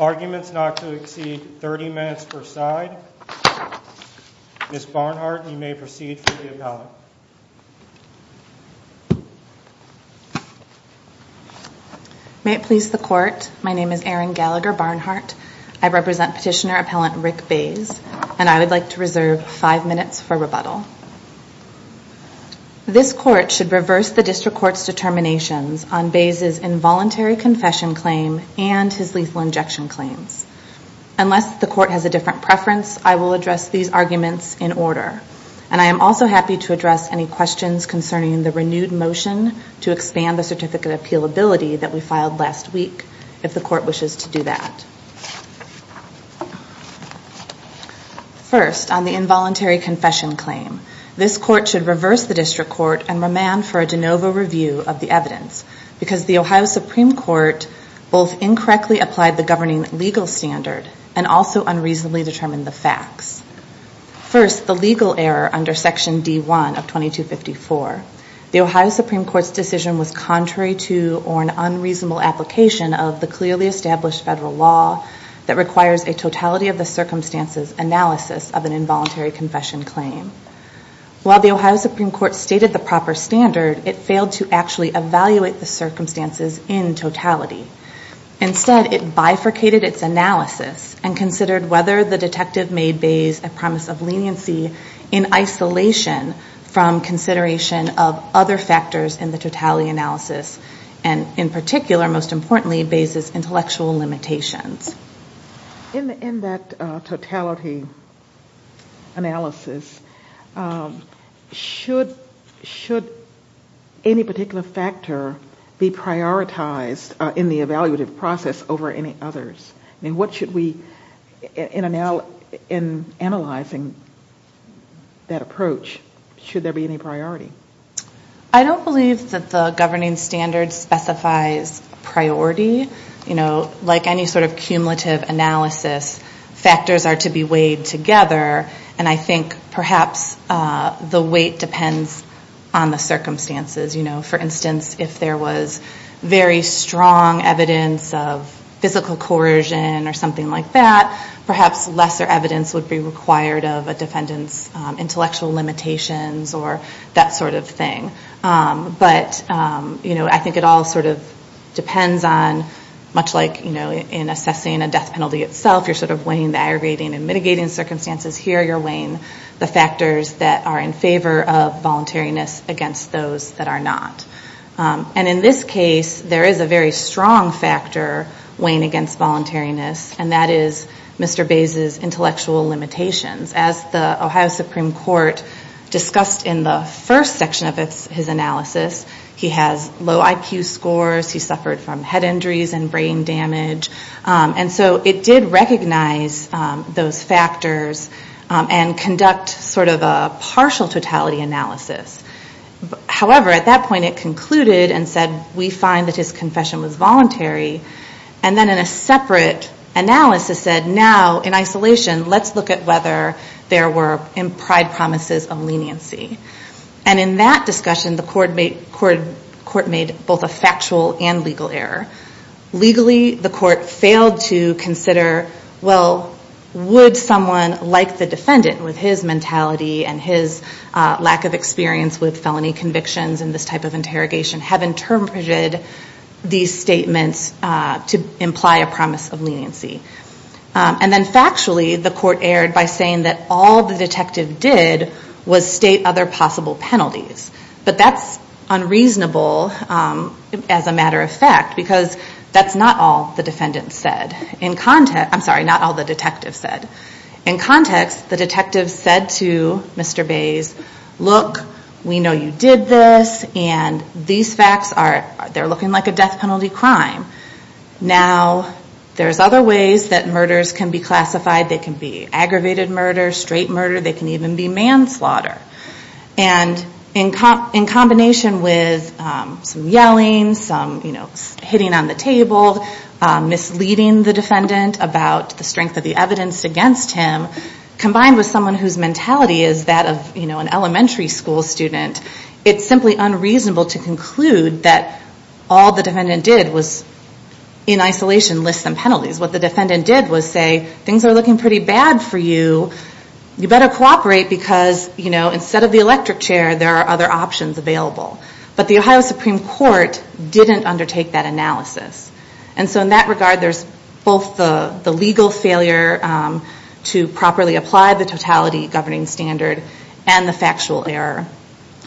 Arguments not to exceed 30 minutes per side, Ms. Barnhart you may proceed for the appellate. May it please the court, my name is Erin Gallagher Barnhart, I represent Petitioner Appellant Rick Bays, and I would like to reserve five minutes for rebuttal. This court should reverse the District Court's determinations on Bays' involuntary confession claim and his lethal injection claims. Unless the court has a different preference, I will address these arguments in order. And I am also happy to address any questions concerning the renewed motion to expand the First, on the involuntary confession claim. This court should reverse the District Court and remand for a de novo review of the evidence because the Ohio Supreme Court both incorrectly applied the governing legal standard and also unreasonably determined the facts. First, the legal error under section D1 of 2254. The Ohio Supreme Court's decision was contrary to or an unreasonable application of the clearly the circumstances analysis of an involuntary confession claim. While the Ohio Supreme Court stated the proper standard, it failed to actually evaluate the circumstances in totality. Instead, it bifurcated its analysis and considered whether the detective made Bays a promise of leniency in isolation from consideration of other factors in the totality analysis and in particular, most importantly, Bays' intellectual limitations. In that totality analysis, should any particular factor be prioritized in the evaluative process over any others? What should we, in analyzing that approach, should there be any priority? I don't believe that the governing standard specifies priority. Like any sort of cumulative analysis, factors are to be weighed together and I think perhaps the weight depends on the circumstances. For instance, if there was very strong evidence of physical coercion or something like that, perhaps lesser evidence would be required of a defendant's intellectual limitations or that sort of thing. I think it all sort of depends on, much like in assessing a death penalty itself, you're sort of weighing the aggregating and mitigating circumstances. Here you're weighing the factors that are in favor of voluntariness against those that are not. In this case, there is a very strong factor weighing against voluntariness and that is Mr. Bays' intellectual limitations. As the Ohio Supreme Court discussed in the first section of his analysis, he has low IQ scores, he suffered from head injuries and brain damage. It did recognize those factors and conduct sort of a partial totality analysis. However, at that point it concluded and said we find that his confession was voluntary and then in a separate analysis said now, in isolation, let's look at whether there were implied promises of leniency. In that discussion, the court made both a factual and legal error. Legally, the court failed to consider, well, would someone like the defendant with his mentality and his lack of experience with felony convictions in this type of interrogation have interpreted these statements to imply a promise of leniency? And then factually, the court erred by saying that all the detective did was state other possible penalties. But that's unreasonable as a matter of fact because that's not all the defendant said. I'm sorry, not all the detective said. In context, the detective said to Mr. Bays, look, we know you did this and these facts are, they're looking like a death penalty crime. Now there's other ways that murders can be classified. They can be aggravated murder, straight murder, they can even be manslaughter. And in combination with some yelling, some hitting on the table, misleading the defendant about the strength of the evidence against him, combined with someone whose mentality is that of an elementary school student, it's simply unreasonable to conclude that all the defendant did was in isolation list some penalties. What the defendant did was say, things are looking pretty bad for you, you better cooperate because instead of the electric chair, there are other options available. But the Ohio Supreme Court didn't undertake that analysis. And so in that regard, there's both the legal failure to properly apply the totality governing standard and the factual error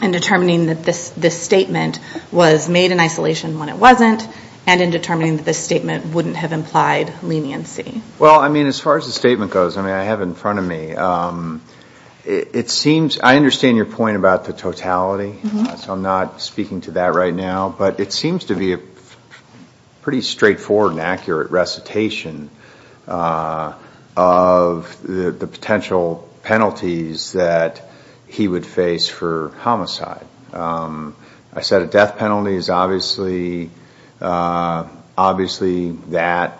in determining that this statement was made in isolation when it wasn't and in determining that this statement wouldn't have implied leniency. Well, I mean, as far as the statement goes, I mean, I have it in front of me. It seems, I understand your point about the totality, so I'm not speaking to that right now, but it seems to be a pretty straightforward and accurate recitation of the potential penalties that he would face for homicide. I said a death penalty is obviously that,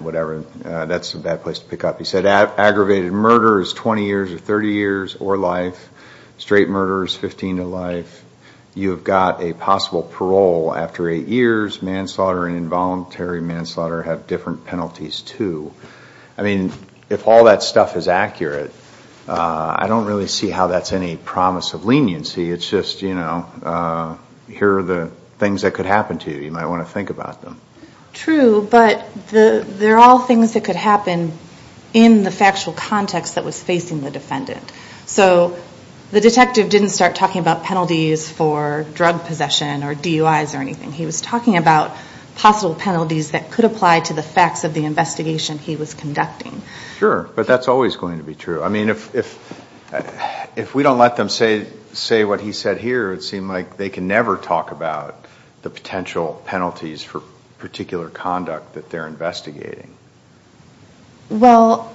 whatever, that's a bad place to pick up. He said aggravated murder is 20 years or 30 years or life. Straight murder is 15 to life. You've got a possible parole after eight years. Manslaughter and involuntary manslaughter have different penalties, too. I mean, if all that stuff is accurate, I don't really see how that's any promise of leniency. It's just, you know, here are the things that could happen to you. You might want to think about them. True, but they're all things that could happen in the factual context that was facing the defendant. So the detective didn't start talking about penalties for drug possession or DUIs or anything. He was talking about possible penalties that could apply to the facts of the investigation he was conducting. Sure, but that's always going to be true. I mean, if we don't let them say what he said here, it would seem like they can never talk about the potential penalties for particular conduct that they're investigating. Well,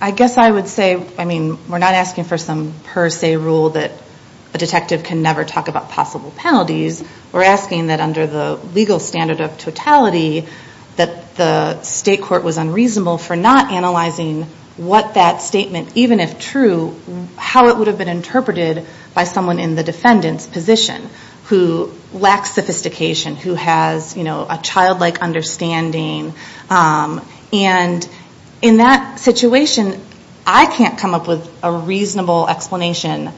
I guess I would say, I mean, we're not asking for some per se rule that a detective can never talk about possible penalties. We're asking that under the legal standard of totality that the state court was unreasonable for not analyzing what that statement, even if true, how it would have been interpreted by someone in the defendant's position who lacks sophistication, who has, you know, a childlike understanding. And in that situation, I can't come up with a reasonable explanation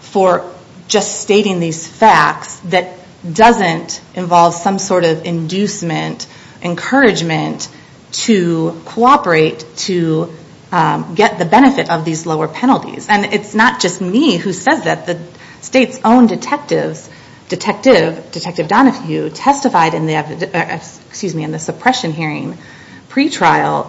for just stating these facts that doesn't involve some sort of inducement, encouragement to cooperate to get the benefit of these lower penalties. And it's not just me who says that. The state's own detectives, Detective Donohue, testified in the suppression hearing pre-trial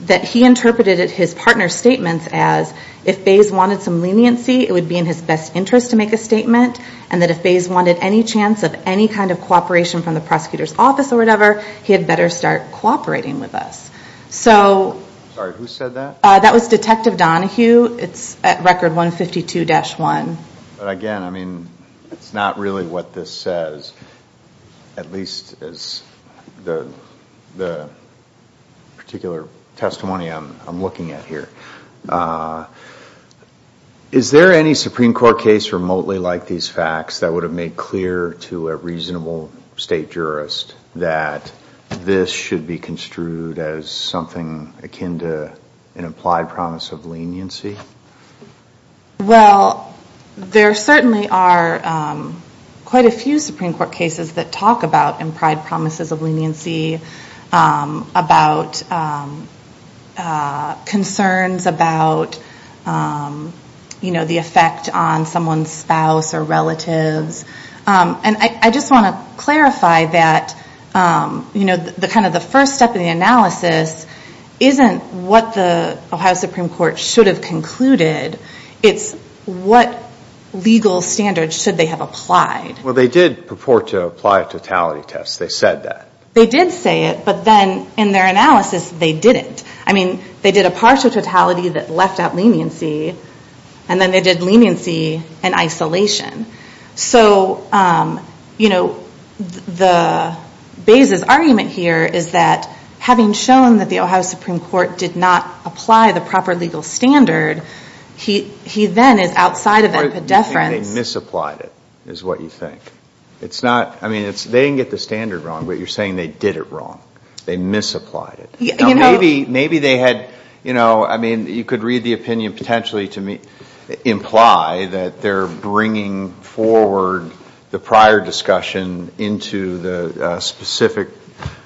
that he interpreted his partner's statements as, if Bays wanted some leniency, it would be in his best interest to make a statement, and that if Bays wanted any chance of any kind of cooperation from the prosecutor's office or whatever, he had better start cooperating with us. Sorry, who said that? That was Detective Donohue. It's at record 152-1. But again, I mean, it's not really what this says, at least as the particular testimony I'm looking at here. Is there any Supreme Court case remotely like these facts that would have made clear to an implied promise of leniency? Well, there certainly are quite a few Supreme Court cases that talk about implied promises of leniency, about concerns about the effect on someone's spouse or relatives. And I just want to clarify that the first step in the analysis isn't what the Ohio Supreme Court should have concluded. It's what legal standards should they have applied. Well, they did purport to apply a totality test. They said that. They did say it, but then in their analysis, they didn't. I mean, they did a partial totality that left out leniency, and then they did leniency and isolation. So, you know, the basis argument here is that having shown that the Ohio Supreme Court did not apply the proper legal standard, he then is outside of it. Or they misapplied it, is what you think. It's not, I mean, they didn't get the standard wrong, but you're saying they did it wrong. They misapplied it. Maybe they had, you know, I mean, you could read the opinion potentially to imply that they're bringing forward the prior discussion into the specific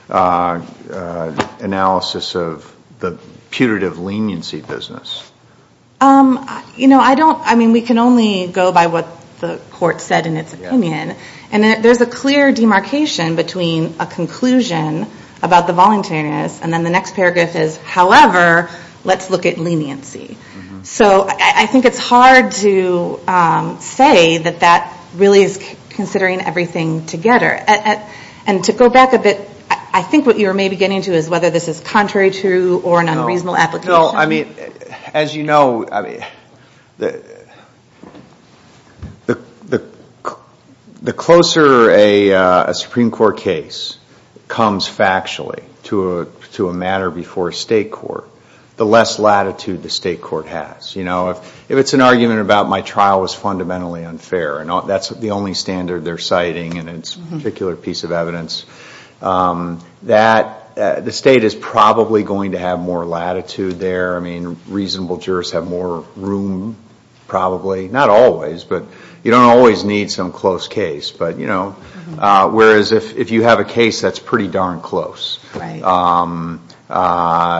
analysis of the putative leniency business. You know, I don't, I mean, we can only go by what the court said in its opinion. And there's a clear demarcation between a conclusion about the voluntariness and then the next paragraph is, however, let's look at leniency. So I think it's hard to say that that really is considering everything together. And to go back a bit, I think what you were maybe getting to is whether this is contrary to or an unreasonable application. As you know, the closer a Supreme Court case comes factually to a matter before a state court, the less latitude the state court has. You know, if it's an argument about my trial was fundamentally unfair, and that's the only standard they're citing in this particular piece of evidence, that the state is probably going to have more latitude there. I mean, reasonable jurists have more room probably. Not always, but you don't always need some close case. But, you know, whereas if you have a case that's pretty darn close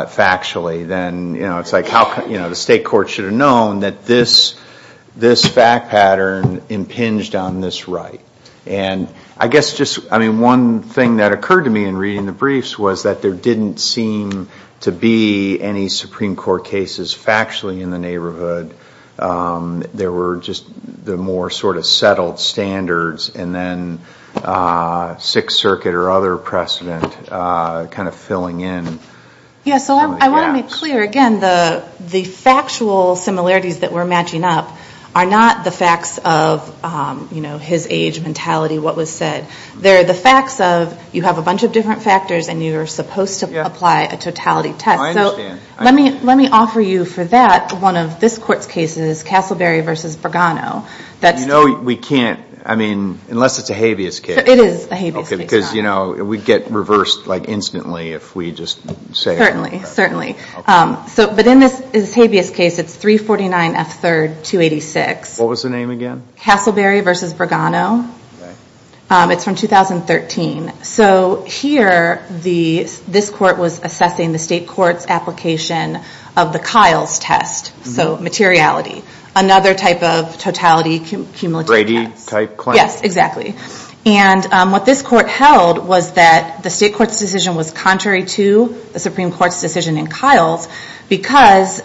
factually, then, you know, it's like how, you know, the state court should have known that this fact pattern impinged on this right. And I guess just, I mean, one thing that occurred to me in reading the briefs was that there didn't seem to be any Supreme Court cases factually in the neighborhood. There were just the more sort of settled standards, and then Sixth Circuit or other precedent kind of filling in. Yeah, so I want to be clear. Again, the factual similarities that we're matching up are not the facts of, you know, his age, mentality, what was said. They're the facts of you have a bunch of different factors, and you're supposed to apply a totality test. So let me offer you for that one of this court's cases, Castleberry v. Bergano. You know, we can't, I mean, unless it's a habeas case. It is a habeas case. Okay, because, you know, we'd get reversed like instantly if we just say it. Certainly, certainly. But in this habeas case, it's 349 F. 3rd, 286. What was the name again? Castleberry v. Bergano. It's from 2013. So here, this court was assessing the state court's application of the Kiles test, so materiality. Another type of totality cumulative test. Brady type claim. Yes, exactly. And what this court held was that the state court's decision was contrary to the Supreme Court's decision in Kiles because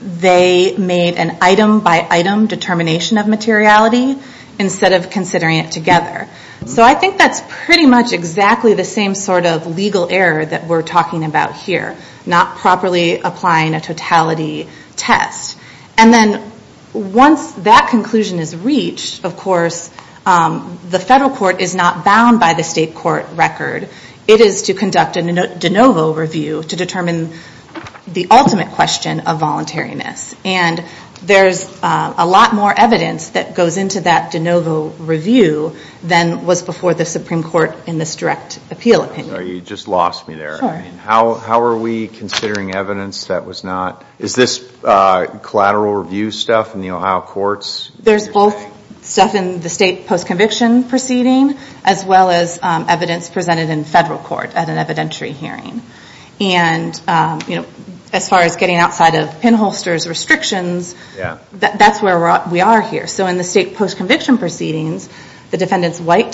they made an item by item determination of materiality instead of considering it together. So I think that's pretty much exactly the same sort of legal error that we're talking about here. Not properly applying a totality test. And then once that conclusion is reached, of course, the federal court is not bound by the state court record. It is to conduct a de novo review to determine the ultimate question of voluntariness. And there's a lot more evidence that goes into that de novo review than was before the Supreme Court in this direct appeal opinion. Sorry, you just lost me there. Sure. I mean, how are we considering evidence that was not? Is this collateral review stuff in the Ohio courts? There's both stuff in the state post-conviction proceeding as well as evidence presented in federal court at an evidentiary hearing. And as far as getting outside of pinholsters restrictions, that's where we are here. So in the state post-conviction proceedings, the defendant's wife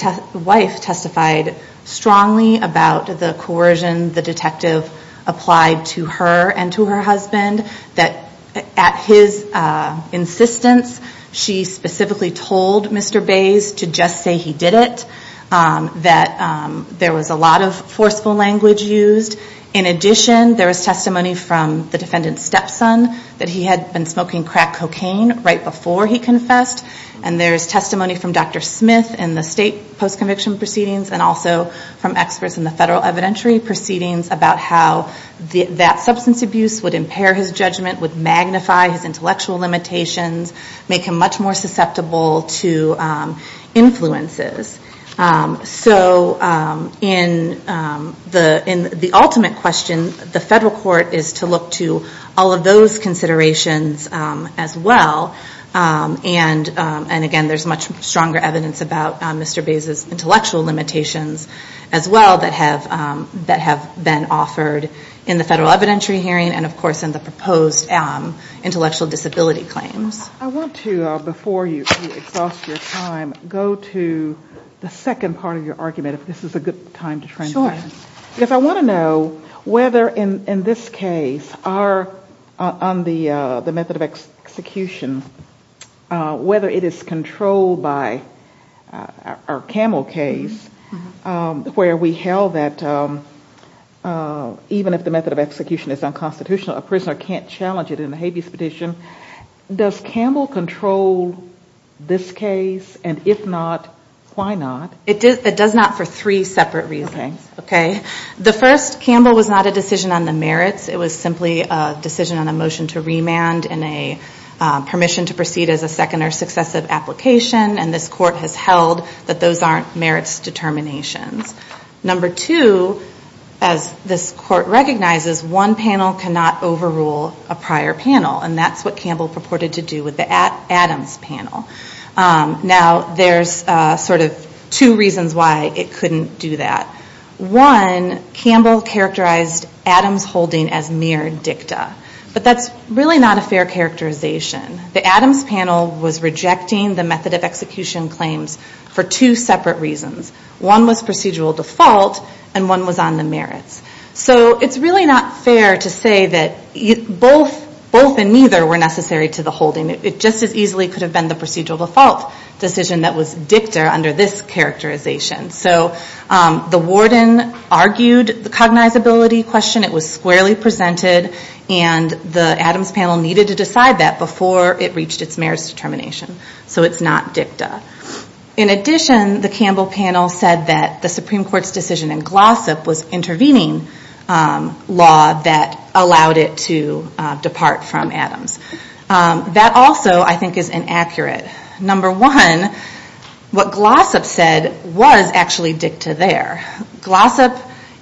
testified strongly about the coercion the detective applied to her and to her husband, that at his insistence, she specifically told Mr. Bays to just say he did it. That there was a lot of forceful language used. In addition, there was testimony from the defendant's stepson that he had been smoking crack cocaine right before he confessed. And there's testimony from Dr. Smith in the state post-conviction proceedings, and also from experts in the federal evidentiary proceedings about how that substance abuse would impair his judgment, would magnify his intellectual limitations, make him much more susceptible to influences. So in the ultimate question, the federal court is to look to all of those considerations as well. And again, there's much stronger evidence about Mr. Bays' intellectual limitations as well that have been offered in the federal evidentiary hearing and, of course, in the proposed intellectual disability claims. I want to, before you exhaust your time, go to the second part of your argument, if this is a good time to transition. Because I want to know whether in this case, on the method of execution, whether it is controlled by our Camel case where we held that even if the method of execution is unconstitutional, a prisoner can't challenge it in a habeas petition. Does Camel control this case? And if not, why not? It does not for three separate reasons. The first, Camel was not a decision on the merits. It was simply a decision on a motion to remand and a permission to proceed as a second or successive application. And this court has held that those aren't merits determinations. Number two, as this court recognizes, one panel cannot overrule a prior panel. And that's what Camel purported to do with the Adams panel. Now, there's sort of two reasons why it couldn't do that. One, Camel characterized Adams holding as mere dicta. But that's really not a fair characterization. The Adams panel was rejecting the method of execution claims for two separate reasons. One was procedural default and one was on the merits. So it's really not fair to say that both and neither were necessary to the holding. It just as easily could have been the procedural default decision that was dicta under this characterization. So the warden argued the cognizability question. It was squarely presented. And the Adams panel needed to decide that before it reached its merits determination. So it's not dicta. In addition, the Camel panel said that the Supreme Court's decision in Glossip was intervening law that allowed it to depart from Adams. That also, I think, is inaccurate. Number one, what Glossop said was actually dicta there. Glossop,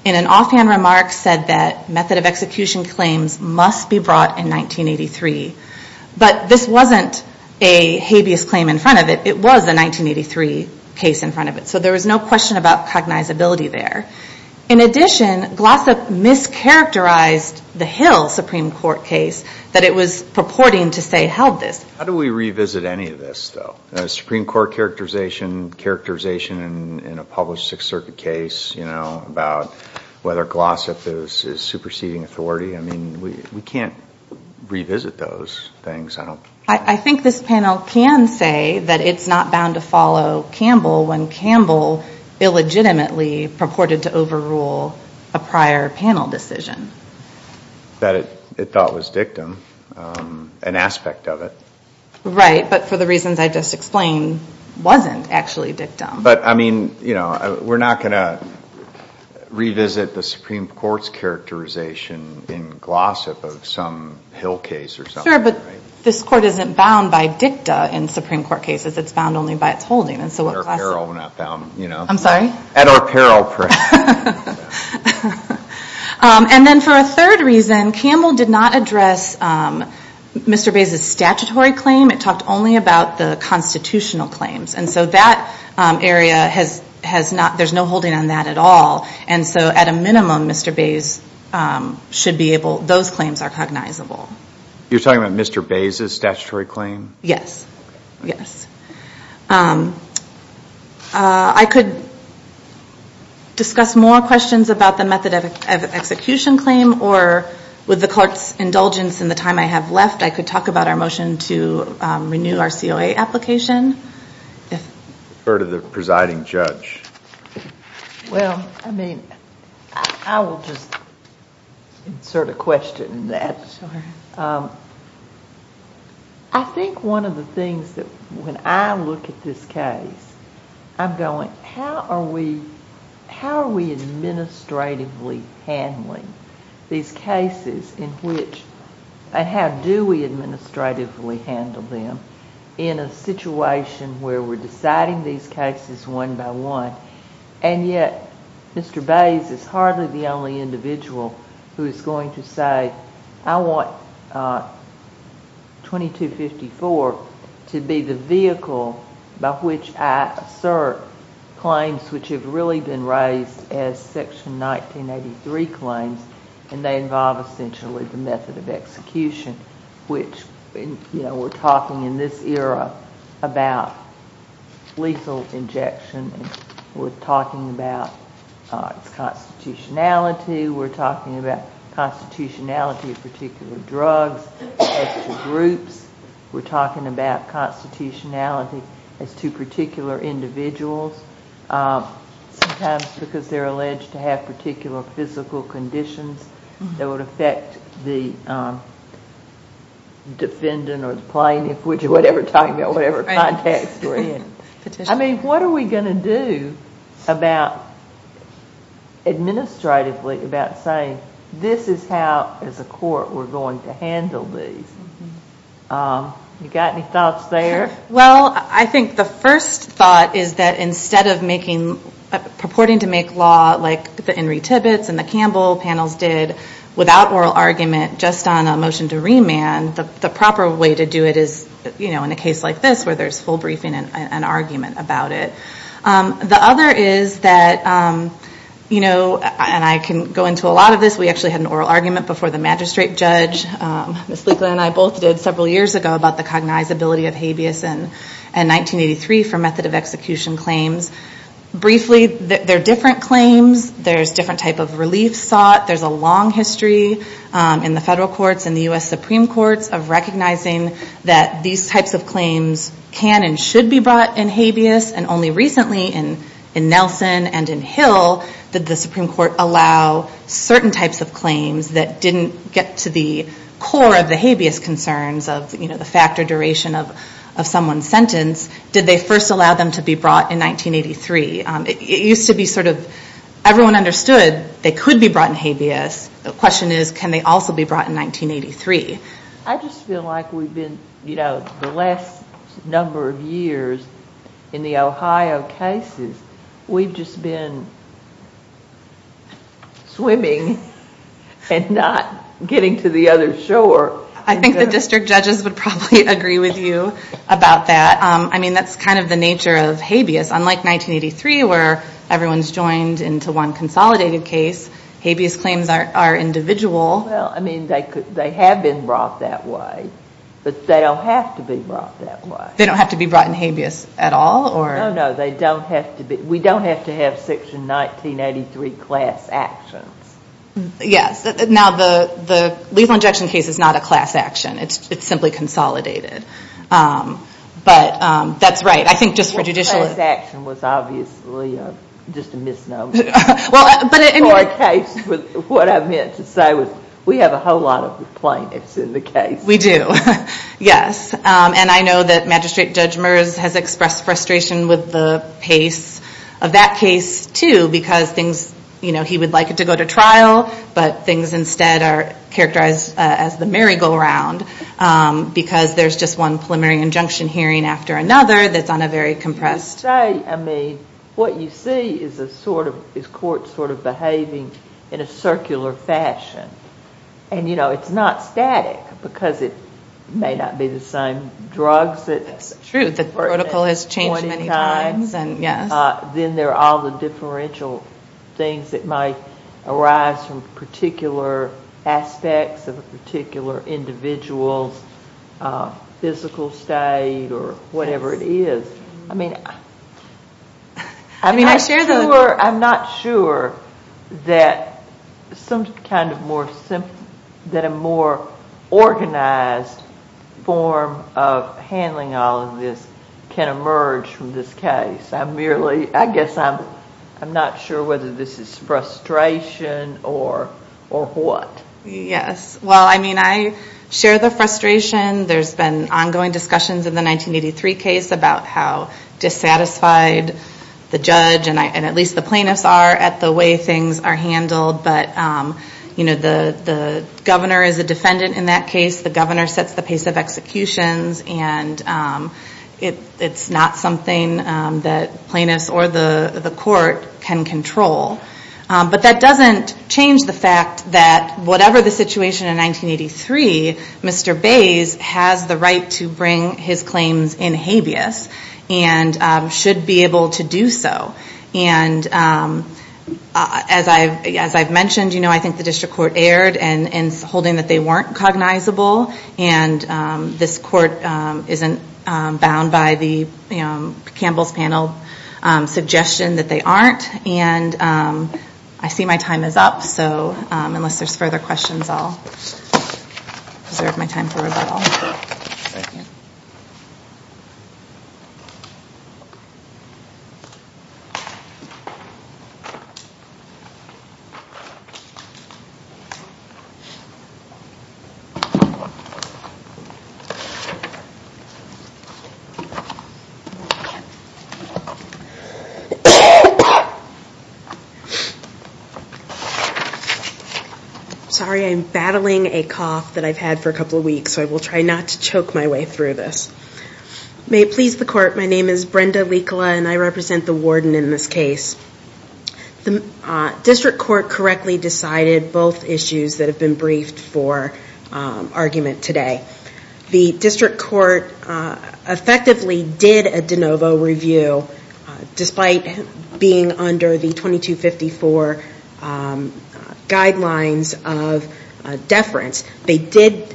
in an offhand remark, said that method of execution claims must be brought in 1983. But this wasn't a habeas claim in front of it. It was a 1983 case in front of it. So there was no question about cognizability there. In addition, Glossop mischaracterized the Hill Supreme Court case that it was purporting to say held this. How do we revisit any of this, though? A Supreme Court characterization, characterization in a published Sixth Circuit case, you know, about whether Glossop is superseding authority. I mean, we can't revisit those things. I think this panel can say that it's not bound to follow Campbell when Campbell illegitimately purported to overrule a prior panel decision. That it thought was dictum, an aspect of it. Right, but for the reasons I just explained, wasn't actually dictum. But, I mean, you know, we're not going to revisit the Supreme Court's characterization in Glossop of some Hill case or something. Sure, but this court isn't bound by dicta in Supreme Court cases. It's bound only by its holding. At our peril, we're not bound. I'm sorry? At our peril. And then for a third reason, Campbell did not address Mr. Bays's statutory claim. It talked only about the constitutional claims. And so that area has not, there's no holding on that at all. And so at a minimum, Mr. Bays should be able, those claims are cognizable. You're talking about Mr. Bays's statutory claim? Yes. Yes. I could discuss more questions about the method of execution claim or with the clerk's indulgence in the time I have left, I could talk about our motion to renew our COA application. Refer to the presiding judge. Well, I mean, I will just insert a question in that. Sure. I think one of the things that when I look at this case, I'm going how are we, how are we administratively handling these cases in which, and how do we administratively handle them in a situation where we're deciding these cases one by one, and yet Mr. Bays is hardly the only individual who is going to say I want 2254 to be the vehicle by which I assert claims which have really been raised as Section 1983 claims, and they involve essentially the method of execution, which we're talking in this era about lethal injection. We're talking about its constitutionality. We're talking about constitutionality of particular drugs as to groups. We're talking about constitutionality as to particular individuals, sometimes because they're alleged to have particular physical conditions that would affect the defendant or the plaintiff, whichever time or whatever context we're in. I mean, what are we going to do about administratively, this is how as a court we're going to handle these. You got any thoughts there? Well, I think the first thought is that instead of making, purporting to make law like the Enri Tibbetts and the Campbell panels did without oral argument just on a motion to remand, the proper way to do it is, you know, in a case like this where there's full briefing and argument about it. The other is that, you know, and I can go into a lot of this. We actually had an oral argument before the magistrate judge. Ms. Leekland and I both did several years ago about the cognizability of habeas in 1983 for method of execution claims. Briefly, they're different claims. There's different type of relief sought. There's a long history in the federal courts and the U.S. Supreme Courts of recognizing that these types of claims can and should be brought in habeas and only recently in Nelson and in Hill did the Supreme Court allow certain types of claims that didn't get to the core of the habeas concerns of, you know, the fact or duration of someone's sentence. Did they first allow them to be brought in 1983? It used to be sort of everyone understood they could be brought in habeas. The question is can they also be brought in 1983? I just feel like we've been, you know, the last number of years in the Ohio cases, we've just been swimming and not getting to the other shore. I think the district judges would probably agree with you about that. I mean, that's kind of the nature of habeas. Unlike 1983 where everyone's joined into one consolidated case, habeas claims are individual. Well, I mean, they have been brought that way, but they don't have to be brought that way. They don't have to be brought in habeas at all? No, no. They don't have to be. We don't have to have Section 1983 class actions. Yes. Now, the lethal injection case is not a class action. It's simply consolidated. But that's right. I think just for judicial. The class action was obviously just a misnomer. For a case, what I meant to say was we have a whole lot of plaintiffs in the case. We do, yes. And I know that Magistrate Judge Merz has expressed frustration with the pace of that case, too, because things, you know, he would like it to go to trial, but things instead are characterized as the merry-go-round because there's just one preliminary injunction hearing after another that's on a very compressed. I would say, I mean, what you see is a sort of, is court sort of behaving in a circular fashion. And, you know, it's not static because it may not be the same drugs. It's true. The protocol has changed many times. Then there are all the differential things that might arise from particular aspects of a particular individual's physical state or whatever it is. I mean, I'm not sure that some kind of more organized form of handling all of this can emerge from this case. I'm merely, I guess I'm not sure whether this is frustration or what. Yes. Well, I mean, I share the frustration. There's been ongoing discussions in the 1983 case about how dissatisfied the judge and at least the plaintiffs are at the way things are handled. But, you know, the governor is a defendant in that case. The governor sets the pace of executions, and it's not something that plaintiffs or the court can control. But that doesn't change the fact that whatever the situation in 1983, Mr. Bays has the right to bring his claims in habeas and should be able to do so. And as I've mentioned, you know, I think the district court erred in holding that they weren't cognizable. And this court isn't bound by the Campbell's panel suggestion that they aren't. And I see my time is up. So unless there's further questions, I'll reserve my time for rebuttal. Thank you. Sorry, I'm battling a cough that I've had for a couple of weeks, so I will try not to choke my way through this. May it please the court, my name is Brenda Likala, and I represent the warden in this case. The district court correctly decided both issues that have been briefed for argument today. The district court effectively did a de novo review, despite being under the 2254 guidelines of deference. They did,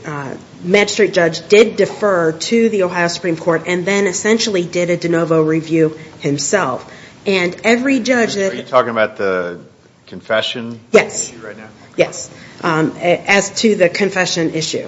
magistrate judge did defer to the Ohio Supreme Court and then essentially did a de novo review himself. And every judge that- Are you talking about the confession issue right now? Yes, as to the confession issue.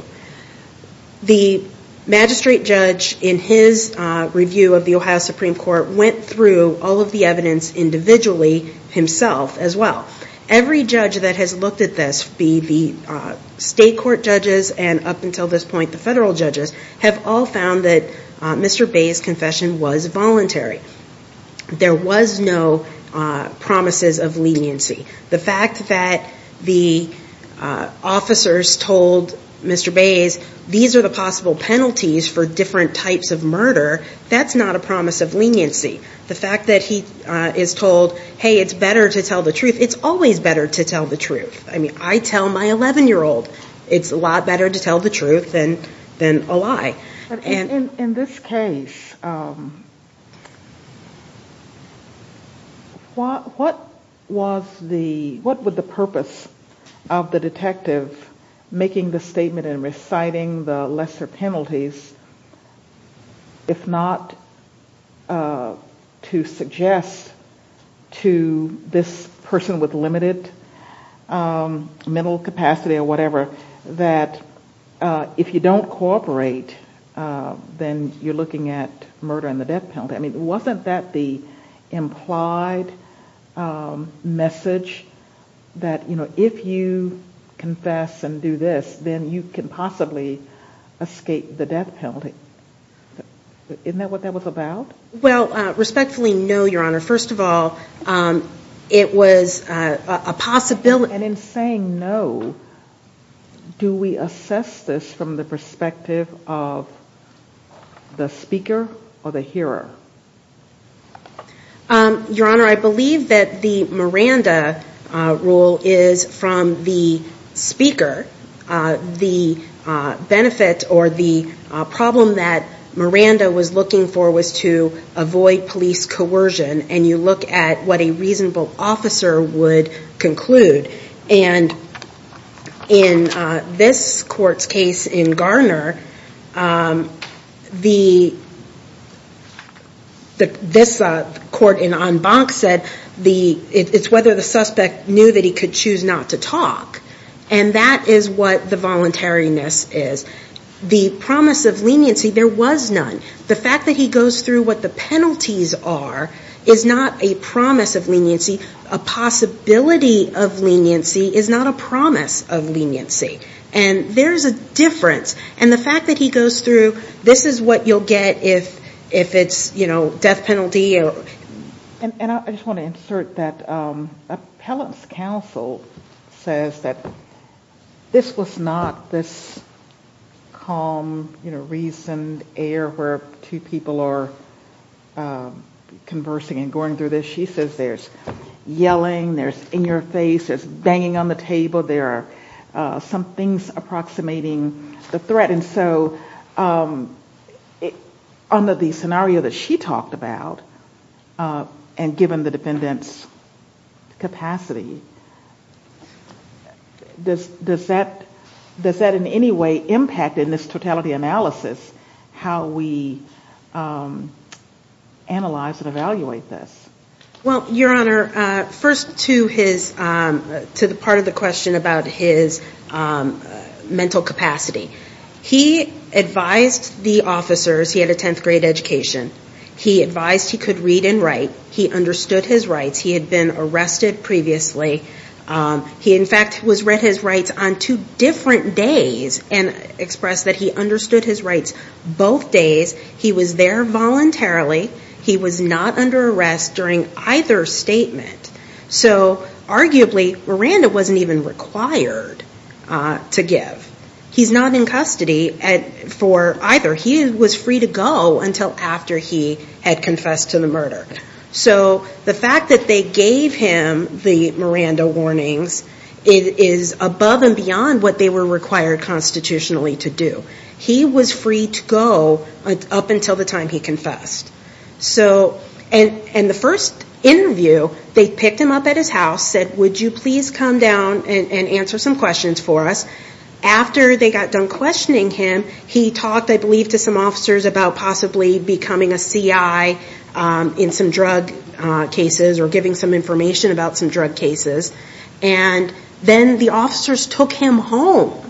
The magistrate judge in his review of the Ohio Supreme Court went through all of the evidence individually himself as well. Every judge that has looked at this, be the state court judges and up until this point the federal judges, have all found that Mr. Bay's confession was voluntary. There was no promises of leniency. The fact that the officers told Mr. Bay's these are the possible penalties for different types of murder, that's not a promise of leniency. The fact that he is told, hey, it's better to tell the truth, it's always better to tell the truth. I mean, I tell my 11-year-old it's a lot better to tell the truth than a lie. In this case, what was the, what was the purpose of the detective making the statement and reciting the lesser penalties if not to suggest to this person with limited mental capacity or whatever that if you don't cooperate, then you're looking at murder and the death penalty. I mean, wasn't that the implied message that, you know, if you confess and do this, then you can possibly escape the death penalty? Isn't that what that was about? Well, respectfully, no, Your Honor. First of all, it was a possibility. And in saying no, do we assess this from the perspective of the speaker or the hearer? Your Honor, I believe that the Miranda rule is from the speaker. The benefit or the problem that Miranda was looking for was to avoid police coercion, and you look at what a reasonable officer would conclude. And in this court's case in Garner, this court in An Banc said it's whether the suspect knew that he could choose not to talk. And that is what the voluntariness is. The promise of leniency, there was none. The fact that he goes through what the penalties are is not a promise of leniency. A possibility of leniency is not a promise of leniency. And there's a difference. And the fact that he goes through this is what you'll get if it's, you know, death penalty. And I just want to insert that Appellant's counsel says that this was not this calm, you know, reasoned air where two people are conversing and going through this. She says there's yelling, there's in your face, there's banging on the table, there are some things approximating the threat. And so under the scenario that she talked about, and given the defendant's capacity, does that in any way impact in this totality analysis how we analyze and evaluate this? Well, Your Honor, first to the part of the question about his mental capacity. He advised the officers. He had a 10th grade education. He advised he could read and write. He understood his rights. He had been arrested previously. He, in fact, was read his rights on two different days and expressed that he understood his rights both days. He was there voluntarily. He was not under arrest during either statement. So arguably Miranda wasn't even required to give. He's not in custody for either. He was free to go until after he had confessed to the murder. So the fact that they gave him the Miranda warnings is above and beyond what they were required constitutionally to do. He was free to go up until the time he confessed. And the first interview, they picked him up at his house, said, would you please come down and answer some questions for us? After they got done questioning him, he talked, I believe, to some officers about possibly becoming a C.I. in some drug cases or giving some information about some drug cases. And then the officers took him home.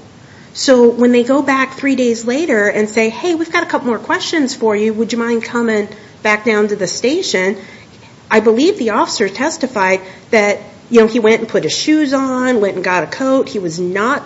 So when they go back three days later and say, hey, we've got a couple more questions for you. Would you mind coming back down to the station? I believe the officer testified that he went and put his shoes on, went and got a coat. He was not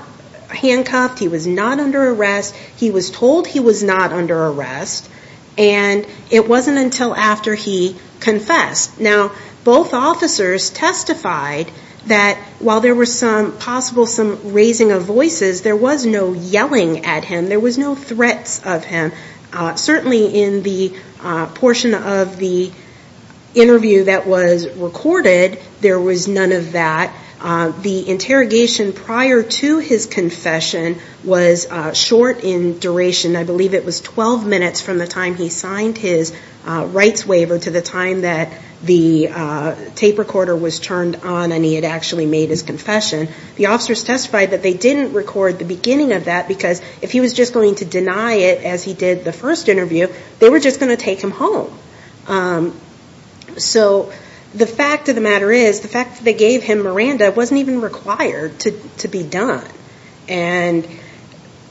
handcuffed. He was not under arrest. He was told he was not under arrest. And it wasn't until after he confessed. Now, both officers testified that while there was some possible raising of voices, there was no yelling at him. There was no threats of him. Certainly in the portion of the interview that was recorded, there was none of that. The interrogation prior to his confession was short in duration. I believe it was 12 minutes from the time he signed his rights waiver to the time that the tape recorder was turned on and he had actually made his confession. The officers testified that they didn't record the beginning of that, because if he was just going to deny it as he did the first interview, they were just going to take him home. So the fact of the matter is, the fact that they gave him Miranda wasn't even required to be done. And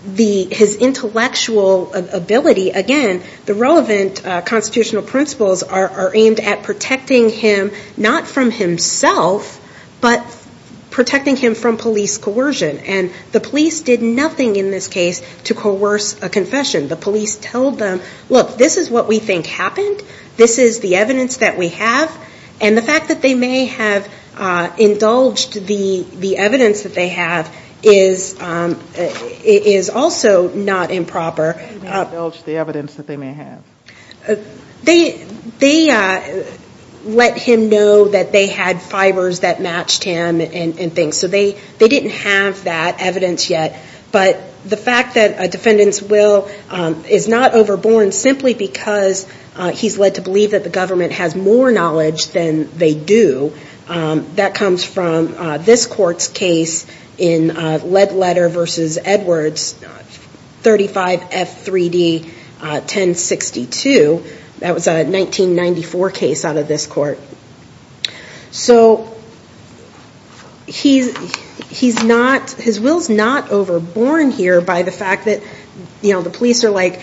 his intellectual ability, again, the relevant constitutional principles are aimed at protecting him not from himself, but protecting him from police coercion. And the police did nothing in this case to coerce a confession. The police told them, look, this is what we think happened. This is the evidence that we have. And the fact that they may have indulged the evidence that they have is also not improper. They may have indulged the evidence that they may have. They let him know that they had fibers that matched him and things. So they didn't have that evidence yet. But the fact that a defendant's will is not overborne simply because he's led to believe that the government has more knowledge than they do, that comes from this court's case in Ledletter v. Edwards, 35F3D1062. That was a 1994 case out of this court. So his will's not overborne here by the fact that the police are like,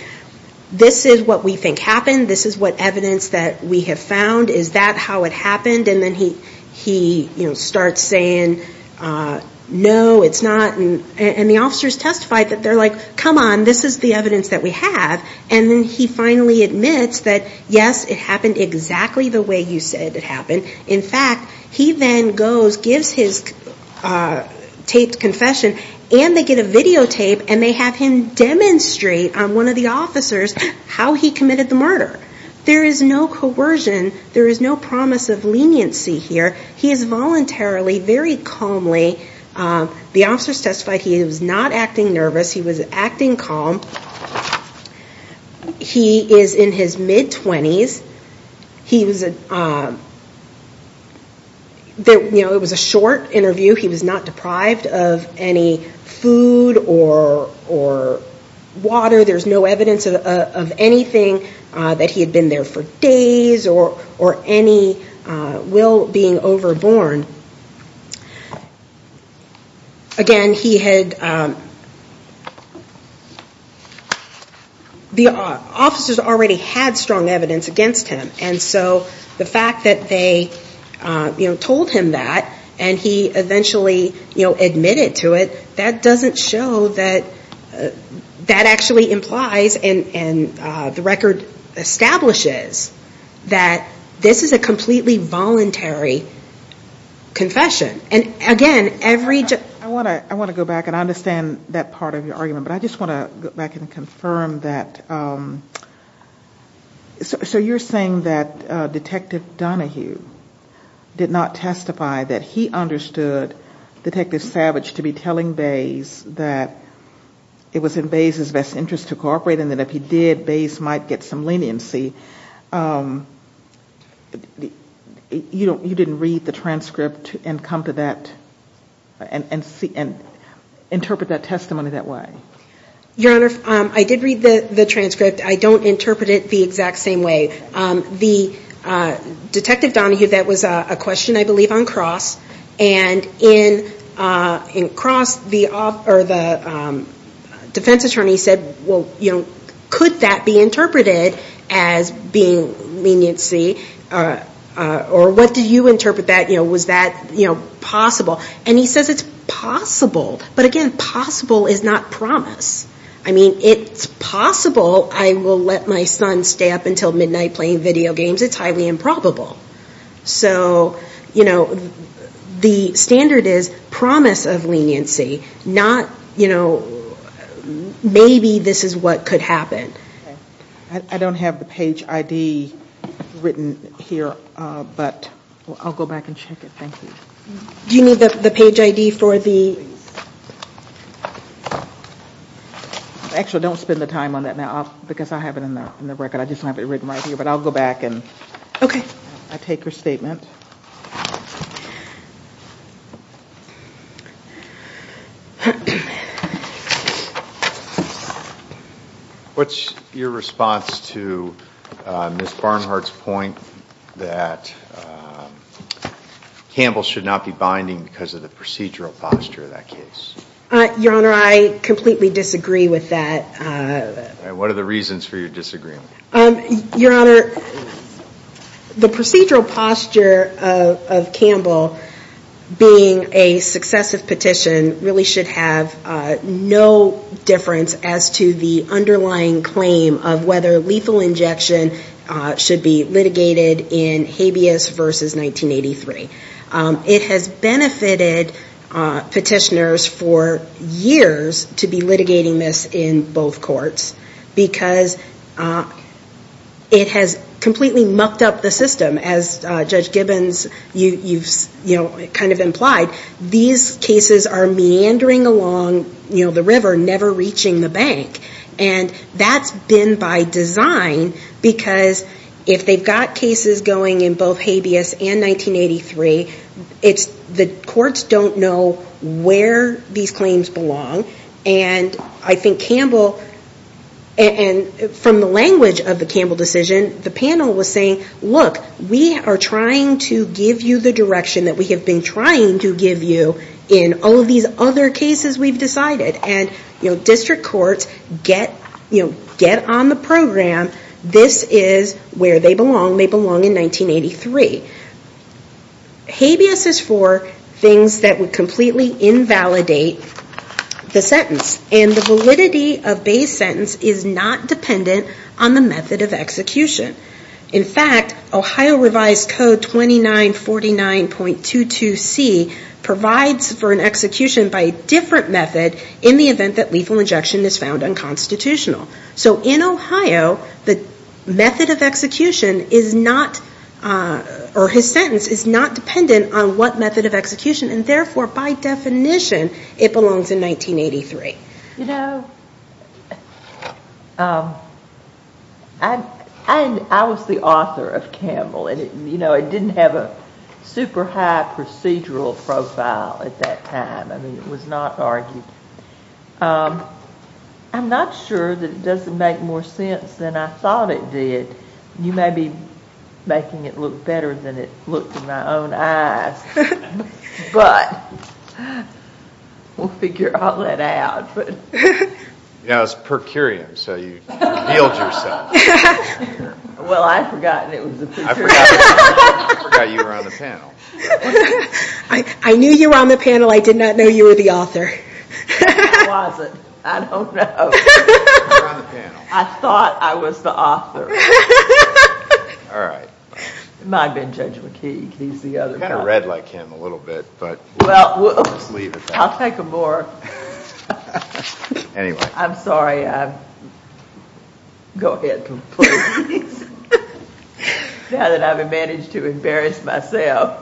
this is what we think happened. This is what evidence that we have found. Is that how it happened? And then he starts saying, no, it's not. And the officers testify that they're like, come on, this is the evidence that we have. And then he finally admits that, yes, it happened exactly the way you said it happened. In fact, he then goes, gives his taped confession, and they get a videotape, and they have him demonstrate on one of the officers how he committed the murder. There is no coercion. There is no promise of leniency here. He is voluntarily, very calmly. The officers testify he was not acting nervous. He was acting calm. He is in his mid-20s. It was a short interview. He was not deprived of any food or water. There's no evidence of anything that he had been there for days or any will being overborne. Again, the officers already had strong evidence against him. And so the fact that they told him that, and he eventually admitted to it, that doesn't show that that actually implies and the record establishes that this is a completely voluntary confession. And, again, every... I want to go back, and I understand that part of your argument, but I just want to go back and confirm that. So you're saying that Detective Donahue did not testify that he understood Detective Savage to be telling Bays that it was in Bays' best interest to cooperate, and that if he did, Bays might get some leniency. You didn't read the transcript and interpret that testimony that way? Your Honor, I did read the transcript. I don't interpret it the exact same way. Detective Donahue, that was a question, I believe, on Cross, and in Cross, the defense attorney said, could that be interpreted as being leniency? Or what do you interpret that? Was that possible? And he says it's possible. But, again, possible is not promise. I mean, it's possible I will let my son stay up until midnight playing video games. It's highly improbable. So the standard is promise of leniency, not, you know, maybe this is what could happen. I don't have the page ID written here, but I'll go back and check it. Thank you. Do you need the page ID for the... Actually, don't spend the time on that now, because I have it in the record. I just have it written right here, but I'll go back and take her statement. What's your response to Ms. Barnhart's point that Campbell should not be binding because of the procedural posture of that case? Your Honor, I completely disagree with that. And what are the reasons for your disagreement? Your Honor, the procedural posture of Campbell being a successive petition really should have no difference as to the underlying claim of whether lethal injection should be litigated in Habeas versus 1983. It has benefited petitioners for years to be litigating this in both courts because it has completely mucked up the system. As Judge Gibbons, you've kind of implied, these cases are meandering along the river, never reaching the bank. And that's been by design because if they've got cases going in both Habeas and 1983, the courts don't know where these claims belong. And I think Campbell, and from the language of the Campbell decision, the panel was saying, look, we are trying to give you the direction that we have been trying to give you in all of these other cases we've decided. And district courts get on the program. This is where they belong. They belong in 1983. Habeas is for things that would completely invalidate the sentence. And the validity of Habeas' sentence is not dependent on the method of execution. In fact, Ohio revised code 2949.22c provides for an execution by a different method in the event that lethal injection is found unconstitutional. So in Ohio, the method of execution is not, or his sentence is not dependent on what method of execution and therefore, by definition, it belongs in 1983. You know, I was the author of Campbell and it didn't have a super high procedural profile at that time. I mean, it was not argued. I'm not sure that it doesn't make more sense than I thought it did. You may be making it look better than it looked in my own eyes. But we'll figure all that out. Yeah, it was per curiam, so you healed yourself. Well, I'd forgotten it was a picture. I forgot you were on the panel. I knew you were on the panel. I did not know you were the author. I wasn't. I don't know. You were on the panel. I thought I was the author. All right. It might have been Judge McKee. He's the other guy. You kind of read like him a little bit, but we'll just leave it there. I'll take a more. Anyway. I'm sorry. Go ahead, please. Now that I've managed to embarrass myself.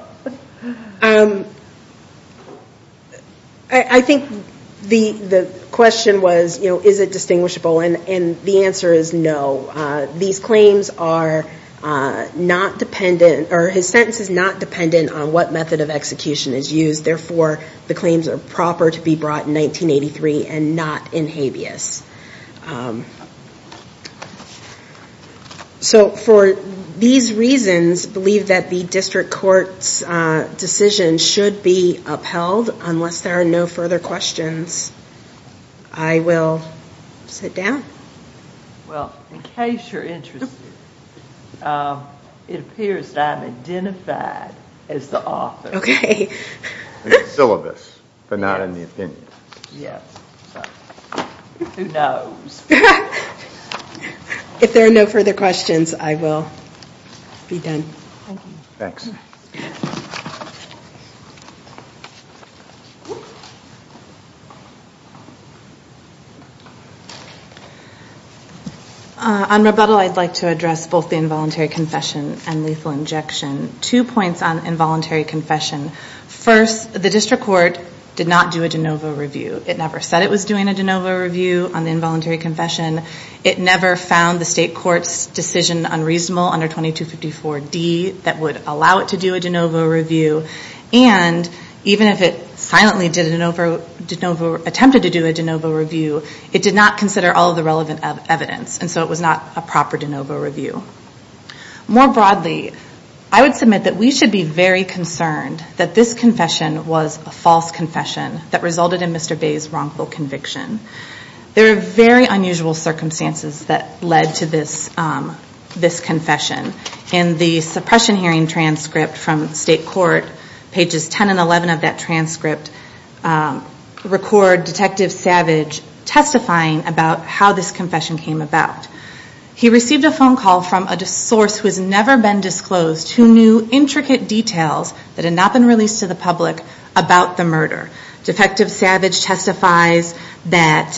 I think the question was, is it distinguishable? And the answer is no. These claims are not dependent, or his sentence is not dependent on what method of execution is used. Therefore, the claims are proper to be brought in 1983 and not in habeas. So for these reasons, I believe that the district court's decision should be upheld, unless there are no further questions. I will sit down. Well, in case you're interested, it appears that I'm identified as the author. Okay. In the syllabus, but not in the opinion. Yes. Who knows? If there are no further questions, I will be done. Thank you. Thanks. On rebuttal, I'd like to address both the involuntary confession and lethal injection. Two points on involuntary confession. First, the district court did not do a de novo review. It never said it was doing a de novo review on involuntary confession. It never found the state court's decision unreasonable under 2254D that would allow it to do a de novo review. And even if it silently attempted to do a de novo review, it did not consider all of the relevant evidence. And so it was not a proper de novo review. More broadly, I would submit that we should be very concerned that this confession was a false confession that resulted in Mr. Bay's wrongful conviction. There are very unusual circumstances that led to this confession. In the suppression hearing transcript from state court, pages 10 and 11 of that transcript, record Detective Savage testifying about how this confession came about. He received a phone call from a source who has never been disclosed, who knew intricate details that had not been released to the public about the murder. Defective Savage testifies that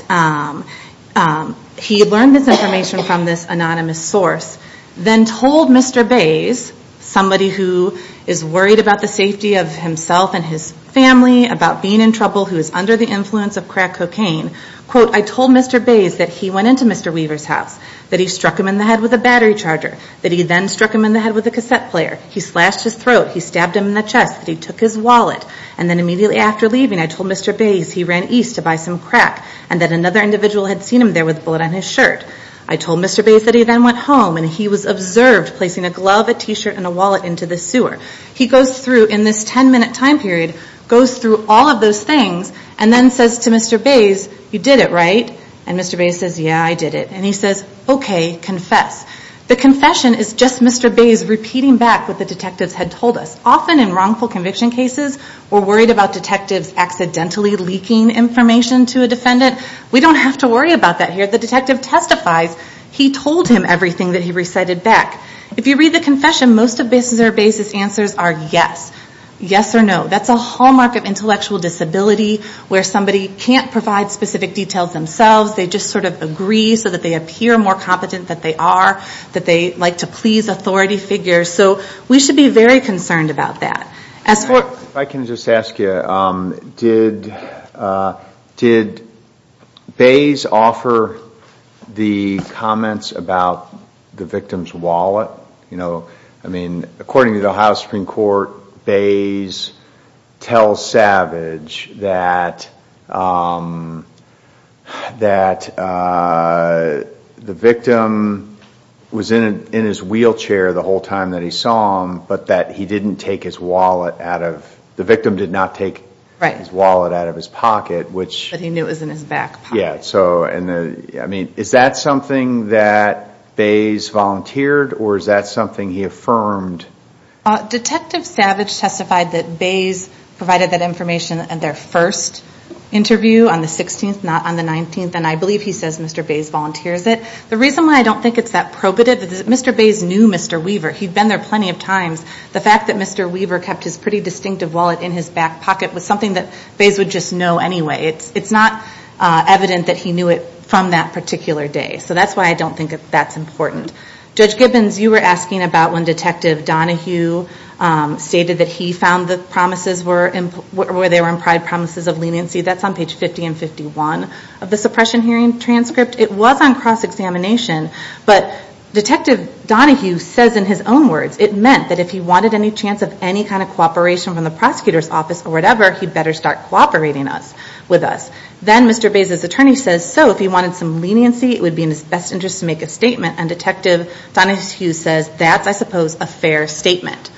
he learned this information from this anonymous source, then told Mr. Bay's, somebody who is worried about the safety of himself and his family, about being in trouble, who is under the influence of crack cocaine, quote, I told Mr. Bay's that he went into Mr. Weaver's house, that he struck him in the head with a battery charger, that he then struck him in the head with a cassette player. He slashed his throat. He stabbed him in the chest. He took his wallet. And then immediately after leaving, I told Mr. Bay's he ran east to buy some crack and that another individual had seen him there with a bullet on his shirt. I told Mr. Bay's that he then went home and he was observed placing a glove, a T-shirt, and a wallet into the sewer. He goes through in this 10-minute time period, goes through all of those things, and then says to Mr. Bay's, you did it, right? And Mr. Bay's says, yeah, I did it. And he says, okay, confess. The confession is just Mr. Bay's repeating back what the detectives had told us. Often in wrongful conviction cases, we're worried about detectives accidentally leaking information to a defendant. We don't have to worry about that here. The detective testifies he told him everything that he recited back. If you read the confession, most of Mr. Bay's answers are yes, yes or no. That's a hallmark of intellectual disability where somebody can't provide specific details themselves. They just sort of agree so that they appear more competent than they are, that they like to please authority figures. So we should be very concerned about that. If I can just ask you, did Bay's offer the comments about the victim's wallet? I mean, according to the Ohio Supreme Court, Bay's tells Savage that the victim was in his wheelchair the whole time that he saw him, but that he didn't take his wallet out of, the victim did not take his wallet out of his pocket. But he knew it was in his back pocket. Yeah. I mean, is that something that Bay's volunteered or is that something he affirmed? Detective Savage testified that Bay's provided that information in their first interview on the 16th, not on the 19th. And I believe he says Mr. Bay's volunteers it. The reason why I don't think it's that probative is that Mr. Bay's knew Mr. Weaver. He'd been there plenty of times. The fact that Mr. Weaver kept his pretty distinctive wallet in his back pocket was something that Bay's would just know anyway. It's not evident that he knew it from that particular day. So that's why I don't think that's important. Judge Gibbons, you were asking about when Detective Donahue stated that he found the promises were, where they were implied promises of leniency. That's on page 50 and 51 of the suppression hearing transcript. It was on cross-examination. But Detective Donahue says in his own words, it meant that if he wanted any chance of any kind of cooperation from the prosecutor's office or whatever, he'd better start cooperating with us. Then Mr. Bay's attorney says, so if he wanted some leniency, it would be in his best interest to make a statement. And Detective Donahue says, that's, I suppose, a fair statement.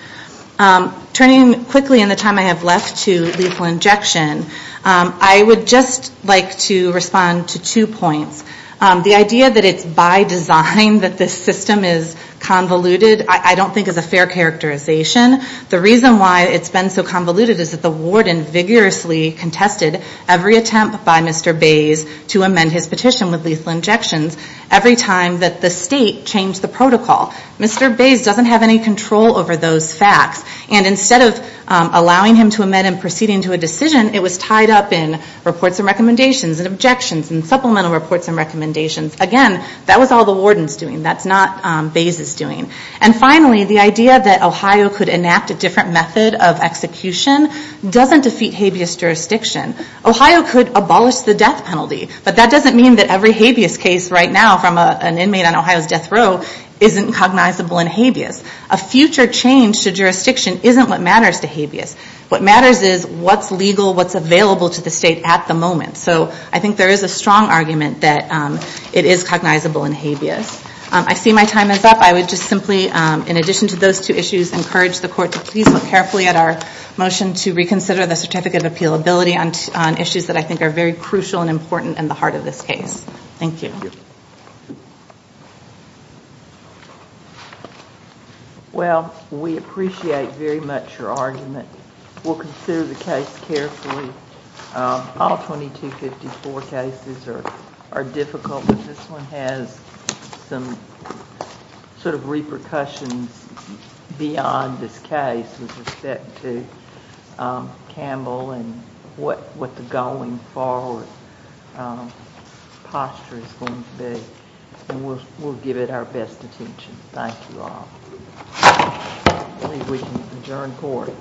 Turning quickly in the time I have left to lethal injection, I would just like to respond to two points. The idea that it's by design that this system is convoluted, I don't think is a fair characterization. The reason why it's been so convoluted is that the warden vigorously contested every attempt by Mr. Bay's to amend his petition with lethal injections every time that the state changed the protocol. Mr. Bay's doesn't have any control over those facts. And instead of allowing him to amend and proceeding to a decision, it was tied up in reports and recommendations and objections and supplemental reports and recommendations. Again, that was all the warden's doing. That's not Bay's' doing. And finally, the idea that Ohio could enact a different method of execution doesn't defeat habeas jurisdiction. Ohio could abolish the death penalty. But that doesn't mean that every habeas case right now from an inmate on Ohio's death row isn't cognizable in habeas. A future change to jurisdiction isn't what matters to habeas. What matters is what's legal, what's available to the state at the moment. So I think there is a strong argument that it is cognizable in habeas. I see my time is up. I would just simply, in addition to those two issues, encourage the court to please look carefully at our motion to reconsider the certificate of appealability on issues that I think are very crucial and important in the heart of this case. Thank you. Thank you. Well, we appreciate very much your argument. We'll consider the case carefully. All 2254 cases are difficult, but this one has some sort of repercussions beyond this case to Campbell and what the going forward posture is going to be. And we'll give it our best attention. Thank you all. I believe we can adjourn court.